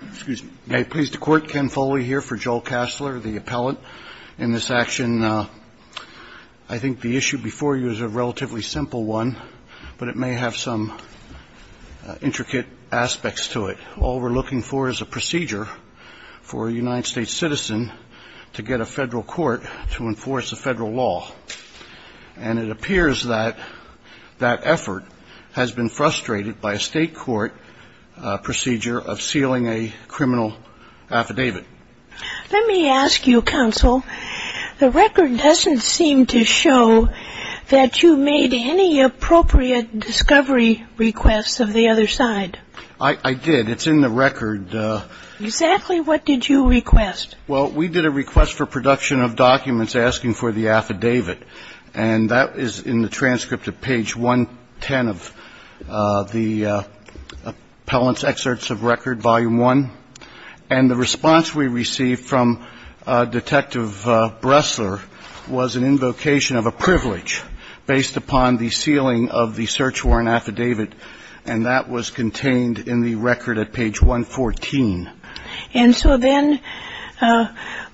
I think the issue before you is a relatively simple one, but it may have some intricate aspects to it. All we're looking for is a procedure for a United States citizen to get a federal court to enforce a federal law. And it appears that that effort has been frustrated by a state court procedure of sealing a criminal affidavit. Let me ask you, Counsel, the record doesn't seem to show that you made any appropriate discovery requests of the other side. I did. It's in the record. Exactly what did you request? Well, we did a request for production of documents asking for the affidavit. And that is in the transcript of page 110 of the Appellant's Excerpts of Record, Volume 1. And the response we received from Detective Bressler was an invocation of a privilege based upon the sealing of the search warrant affidavit. And that was contained in the record at page 114. And so then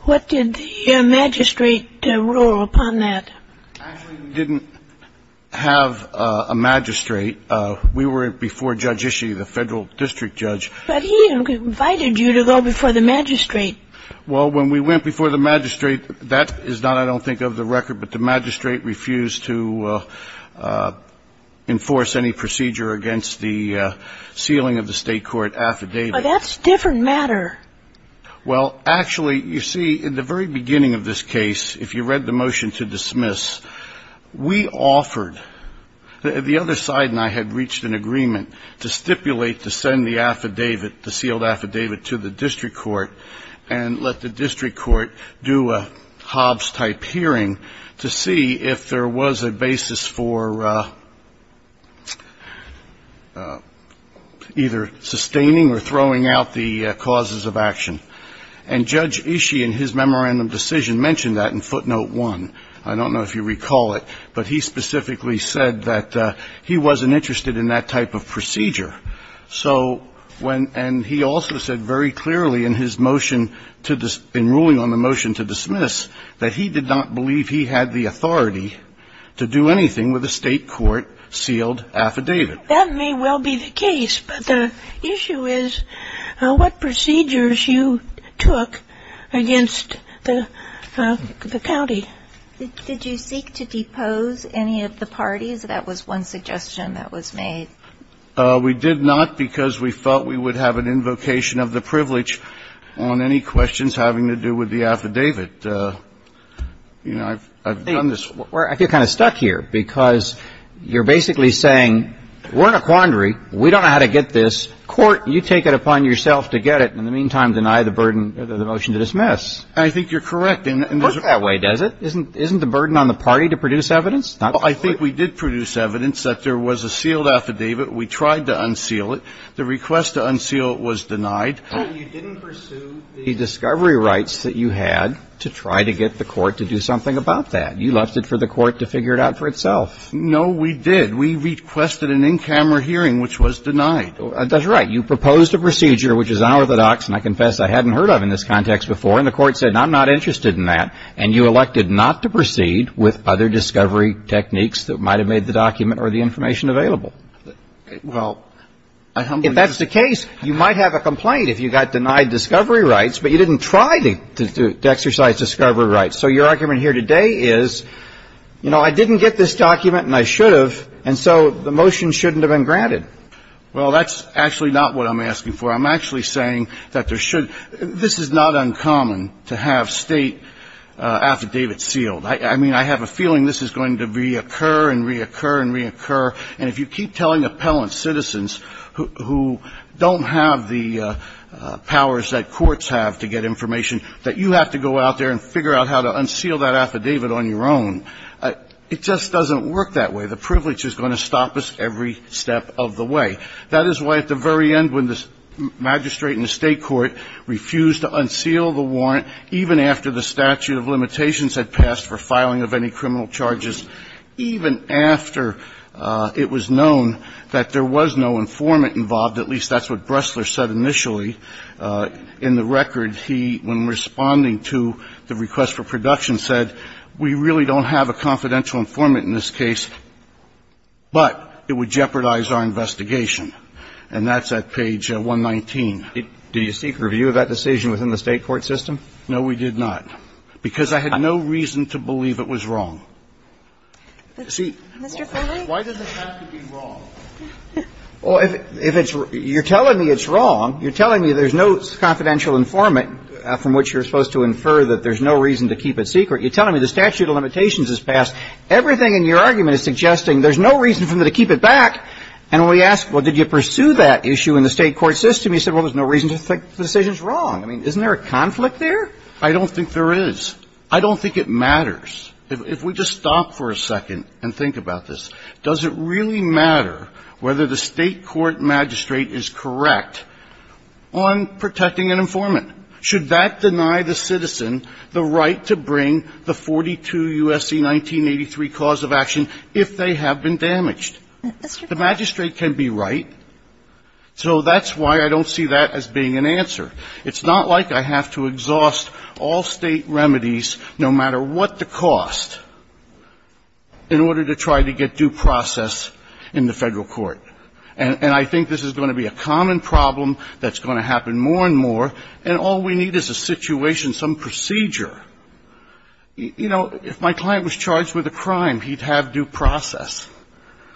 what did the magistrate rule upon that? Actually, we didn't have a magistrate. We were before Judge Ishii, the federal district judge. But he invited you to go before the magistrate. Well, when we went before the magistrate, that is not, I don't think, of the record. But the magistrate refused to enforce any procedure against the sealing of the state court affidavit. But that's a different matter. Well, actually, you see, in the very beginning of this case, if you read the motion to dismiss, we offered, the other side and I had reached an agreement to stipulate to send the affidavit, the sealed affidavit, to the district court and let the district court do a Hobbs-type hearing to see if there was a basis for either sustaining or throwing out the causes of action. And Judge Ishii, in his memorandum decision, mentioned that in footnote 1. I don't know if you recall it, but he specifically said that he wasn't interested in that type of procedure. So when he also said very clearly in his motion, in ruling on the motion to dismiss, that he did not believe he had the authority to do anything with a state court sealed affidavit. That may well be the case. But the issue is what procedures you took against the county. Did you seek to depose any of the parties? That was one suggestion that was made. We did not because we felt we would have an invocation of the privilege on any questions that had to do with the affidavit. You know, I've done this. I feel kind of stuck here because you're basically saying we're in a quandary. We don't know how to get this. Court, you take it upon yourself to get it. In the meantime, deny the burden of the motion to dismiss. I think you're correct. It doesn't work that way, does it? Isn't the burden on the party to produce evidence? I think we did produce evidence that there was a sealed affidavit. We tried to unseal it. The request to unseal it was denied. Well, you didn't pursue the discovery rights that you had to try to get the court to do something about that. You left it for the court to figure it out for itself. No, we did. We requested an in-camera hearing, which was denied. That's right. You proposed a procedure, which is unorthodox, and I confess I hadn't heard of in this context before. And the court said, I'm not interested in that. And you elected not to proceed with other discovery techniques that might have made the document or the information available. Well, I humbly disagree. If that's the case, you might have a complaint if you got denied discovery rights, but you didn't try to exercise discovery rights. So your argument here today is, you know, I didn't get this document and I should have, and so the motion shouldn't have been granted. Well, that's actually not what I'm asking for. I'm actually saying that there should be – this is not uncommon to have State affidavit sealed. I mean, I have a feeling this is going to reoccur and reoccur and reoccur. And if you keep telling appellant citizens who don't have the powers that courts have to get information that you have to go out there and figure out how to unseal that affidavit on your own, it just doesn't work that way. The privilege is going to stop us every step of the way. That is why, at the very end, when the magistrate and the State court refused to unseal the warrant, statute of limitations had passed for filing of any criminal charges, even after it was known that there was no informant involved, at least that's what Bressler said initially in the record, he, when responding to the request for production, said, we really don't have a confidential informant in this case, but it would jeopardize our investigation. And that's at page 119. Do you seek review of that decision within the State court system? No, we did not, because I had no reason to believe it was wrong. See, why does it have to be wrong? Well, if it's you're telling me it's wrong, you're telling me there's no confidential informant from which you're supposed to infer that there's no reason to keep it secret. You're telling me the statute of limitations has passed. Everything in your argument is suggesting there's no reason for me to keep it back. And when we asked, well, did you pursue that issue in the State court system, you said, well, there's no reason to think the decision's wrong. I mean, isn't there a conflict there? I don't think there is. I don't think it matters. If we just stop for a second and think about this, does it really matter whether the State court magistrate is correct on protecting an informant? Should that deny the citizen the right to bring the 42 U.S.C. 1983 cause of action if they have been damaged? The magistrate can be right. So that's why I don't see that as being an answer. It's not like I have to exhaust all State remedies, no matter what the cost, in order to try to get due process in the Federal court. And I think this is going to be a common problem that's going to happen more and more, and all we need is a situation, some procedure. You know, if my client was charged with a crime, he'd have due process.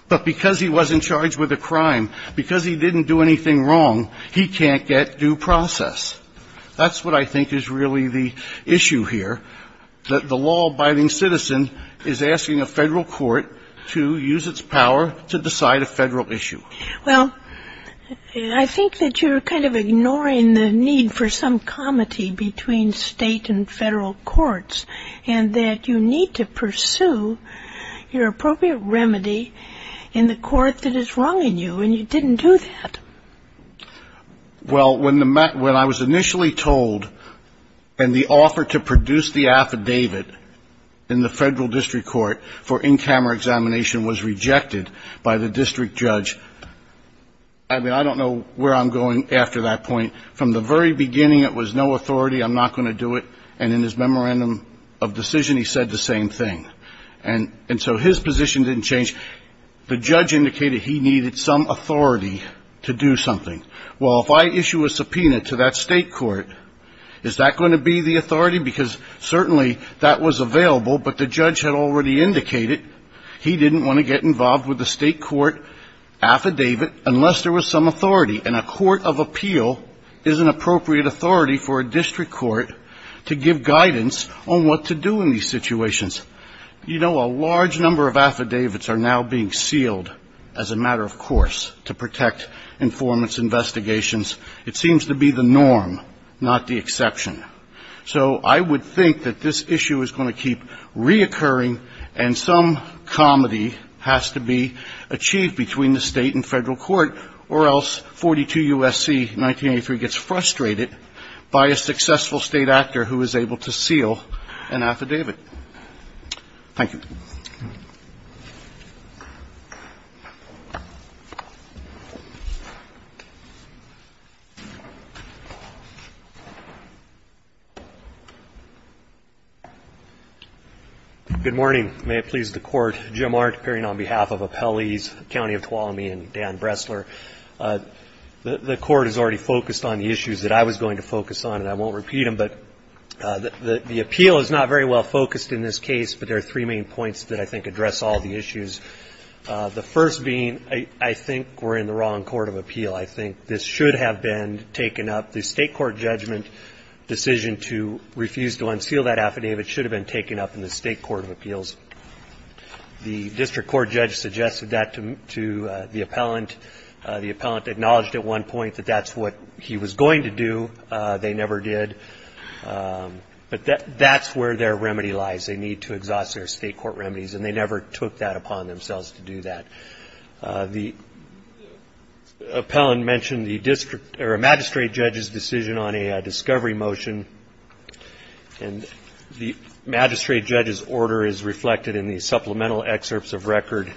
But because he was in charge with a crime, because he didn't do anything wrong, he can't get due process. That's what I think is really the issue here, that the law-abiding citizen is asking a Federal court to use its power to decide a Federal issue. Well, I think that you're kind of ignoring the need for some comity between State and Federal courts, and that you need to pursue your appropriate remedy in the court that is wrong in you, and you didn't do that. Well, when I was initially told, and the offer to produce the affidavit in the Federal district court for in-camera examination was rejected by the district judge, I mean, I don't know where I'm going after that point. From the very beginning, it was no authority, I'm not going to do it, and in his memorandum of decision, he said the same thing. And so his position didn't change. The judge indicated he needed some authority to do something. Well, if I issue a subpoena to that State court, is that going to be the authority? Because certainly that was available, but the judge had already indicated he didn't want to get involved with a State court affidavit unless there was some authority, and a court of appeal is an appropriate authority for a district court to give guidance on what to do in these situations. You know, a large number of affidavits are now being sealed as a matter of course to protect informants' investigations. It seems to be the norm, not the exception. So I would think that this issue is going to keep reoccurring, and some comedy has to be achieved between the State and Federal court, or else 42 U.S.C. 1983 gets frustrated by a successful State actor who is able to seal an affidavit. Thank you. Roberts. Good morning. May it please the Court. Jim Art appearing on behalf of Appellees County of Tuolumne and Dan Bressler. The Court has already focused on the issues that I was going to focus on, and I won't repeat them. But the appeal is not very well focused in this case, but there are three main points that I think address all the issues. The first being I think we're in the wrong court of appeal. I think this should have been taken up. The State court judgment decision to refuse to unseal that affidavit should have been taken up in the State court of appeals. The district court judge suggested that to the appellant. The appellant acknowledged at one point that that's what he was going to do. They never did. But that's where their remedy lies. They need to exhaust their State court remedies, and they never took that upon themselves to do that. The appellant mentioned the magistrate judge's decision on a discovery motion, and the magistrate judge's order is reflected in the supplemental excerpts of record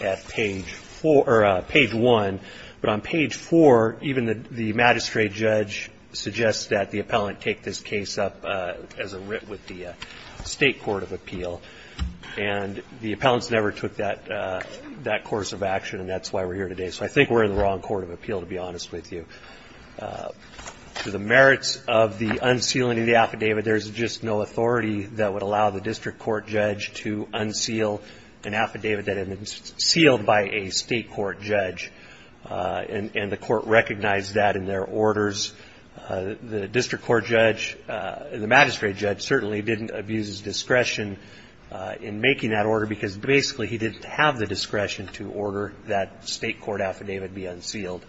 at page one. But on page four, even the magistrate judge suggests that the appellant take this case up as a writ with the State court of appeal. And the appellants never took that course of action, and that's why we're here today. So I think we're in the wrong court of appeal, to be honest with you. To the merits of the unsealing of the affidavit, there's just no authority that would allow the district court judge to unseal an affidavit that had been sealed by a State court judge, and the court recognized that in their orders. The district court judge, the magistrate judge certainly didn't abuse his discretion in making that order, because basically he didn't have the discretion to order that State court affidavit be unsealed.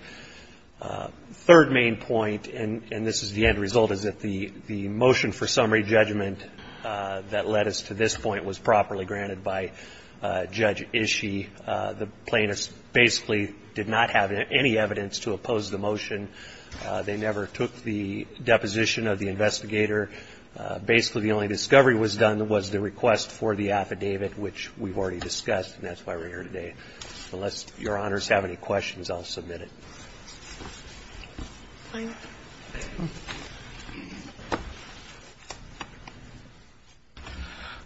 Third main point, and this is the end result, was that the motion for summary judgment that led us to this point was properly granted by Judge Ishii. The plaintiffs basically did not have any evidence to oppose the motion. They never took the deposition of the investigator. Basically, the only discovery was done was the request for the affidavit, which we've already discussed, and that's why we're here today. Unless Your Honors have any questions, I'll submit it.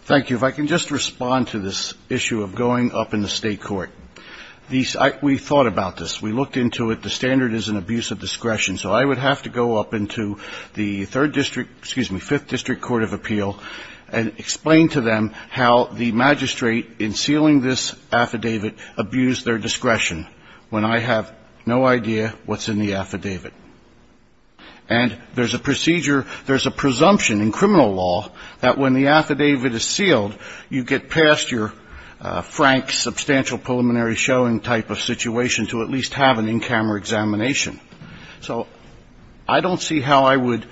Thank you. If I can just respond to this issue of going up in the State court. We thought about this. We looked into it. The standard is an abuse of discretion. So I would have to go up into the third district ‑‑ excuse me, fifth district court of appeal, and explain to them how the magistrate in sealing this affidavit abused their discretion when I have no idea what's in the affidavit. And there's a procedure ‑‑ there's a presumption in criminal law that when the affidavit is sealed, you get past your frank substantial preliminary showing type of situation to at least have an in‑camera examination. So I don't see how I would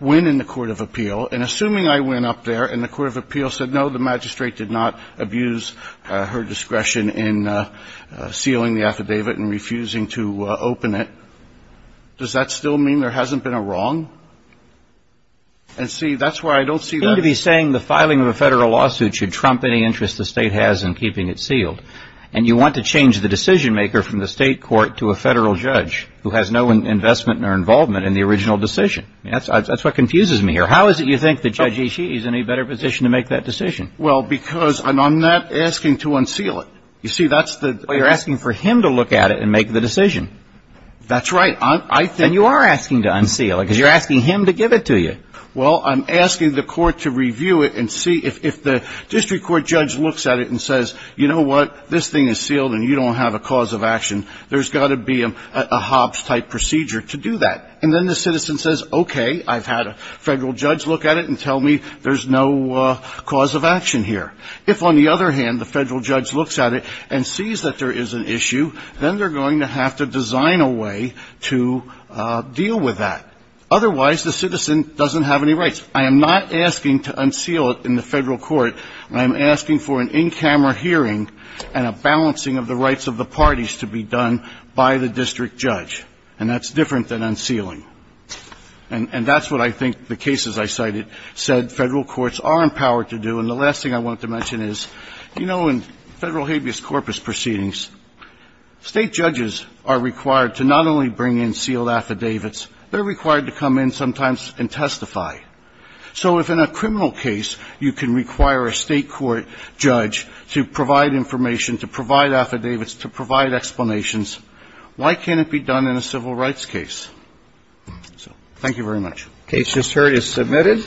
win in the court of appeal. And assuming I win up there and the court of appeal said, no, the magistrate did not abuse her discretion in sealing the affidavit and refusing to open it, does that still mean there hasn't been a wrong? And see, that's why I don't see that. You seem to be saying the filing of a federal lawsuit should trump any interest the State has in keeping it sealed. And you want to change the decision maker from the State court to a federal judge who has no investment or involvement in the original decision. That's what confuses me here. How is it you think that Judge Ishii is in a better position to make that decision? Well, because I'm not asking to unseal it. You see, that's the ‑‑ Well, you're asking for him to look at it and make the decision. That's right. And you are asking to unseal it because you're asking him to give it to you. Well, I'm asking the court to review it and see if the district court judge looks at it and says, you know what, this thing is sealed and you don't have a cause of action, there's got to be a hops type procedure to do that. And then the citizen says, okay, I've had a federal judge look at it and tell me there's no cause of action here. If, on the other hand, the federal judge looks at it and sees that there is an issue, then they're going to have to design a way to deal with that. Otherwise, the citizen doesn't have any rights. I am not asking to unseal it in the federal court. I am asking for an in‑camera hearing and a balancing of the rights of the parties to be done by the district judge. And that's different than unsealing. And that's what I think the cases I cited said federal courts are empowered to do. And the last thing I wanted to mention is, you know, in federal habeas corpus proceedings, state judges are required to not only bring in sealed affidavits, they're required to come in sometimes and testify. So if in a criminal case you can require a state court judge to provide information, to provide affidavits, to provide explanations, why can't it be done in a civil rights case? So thank you very much. The case just heard is submitted.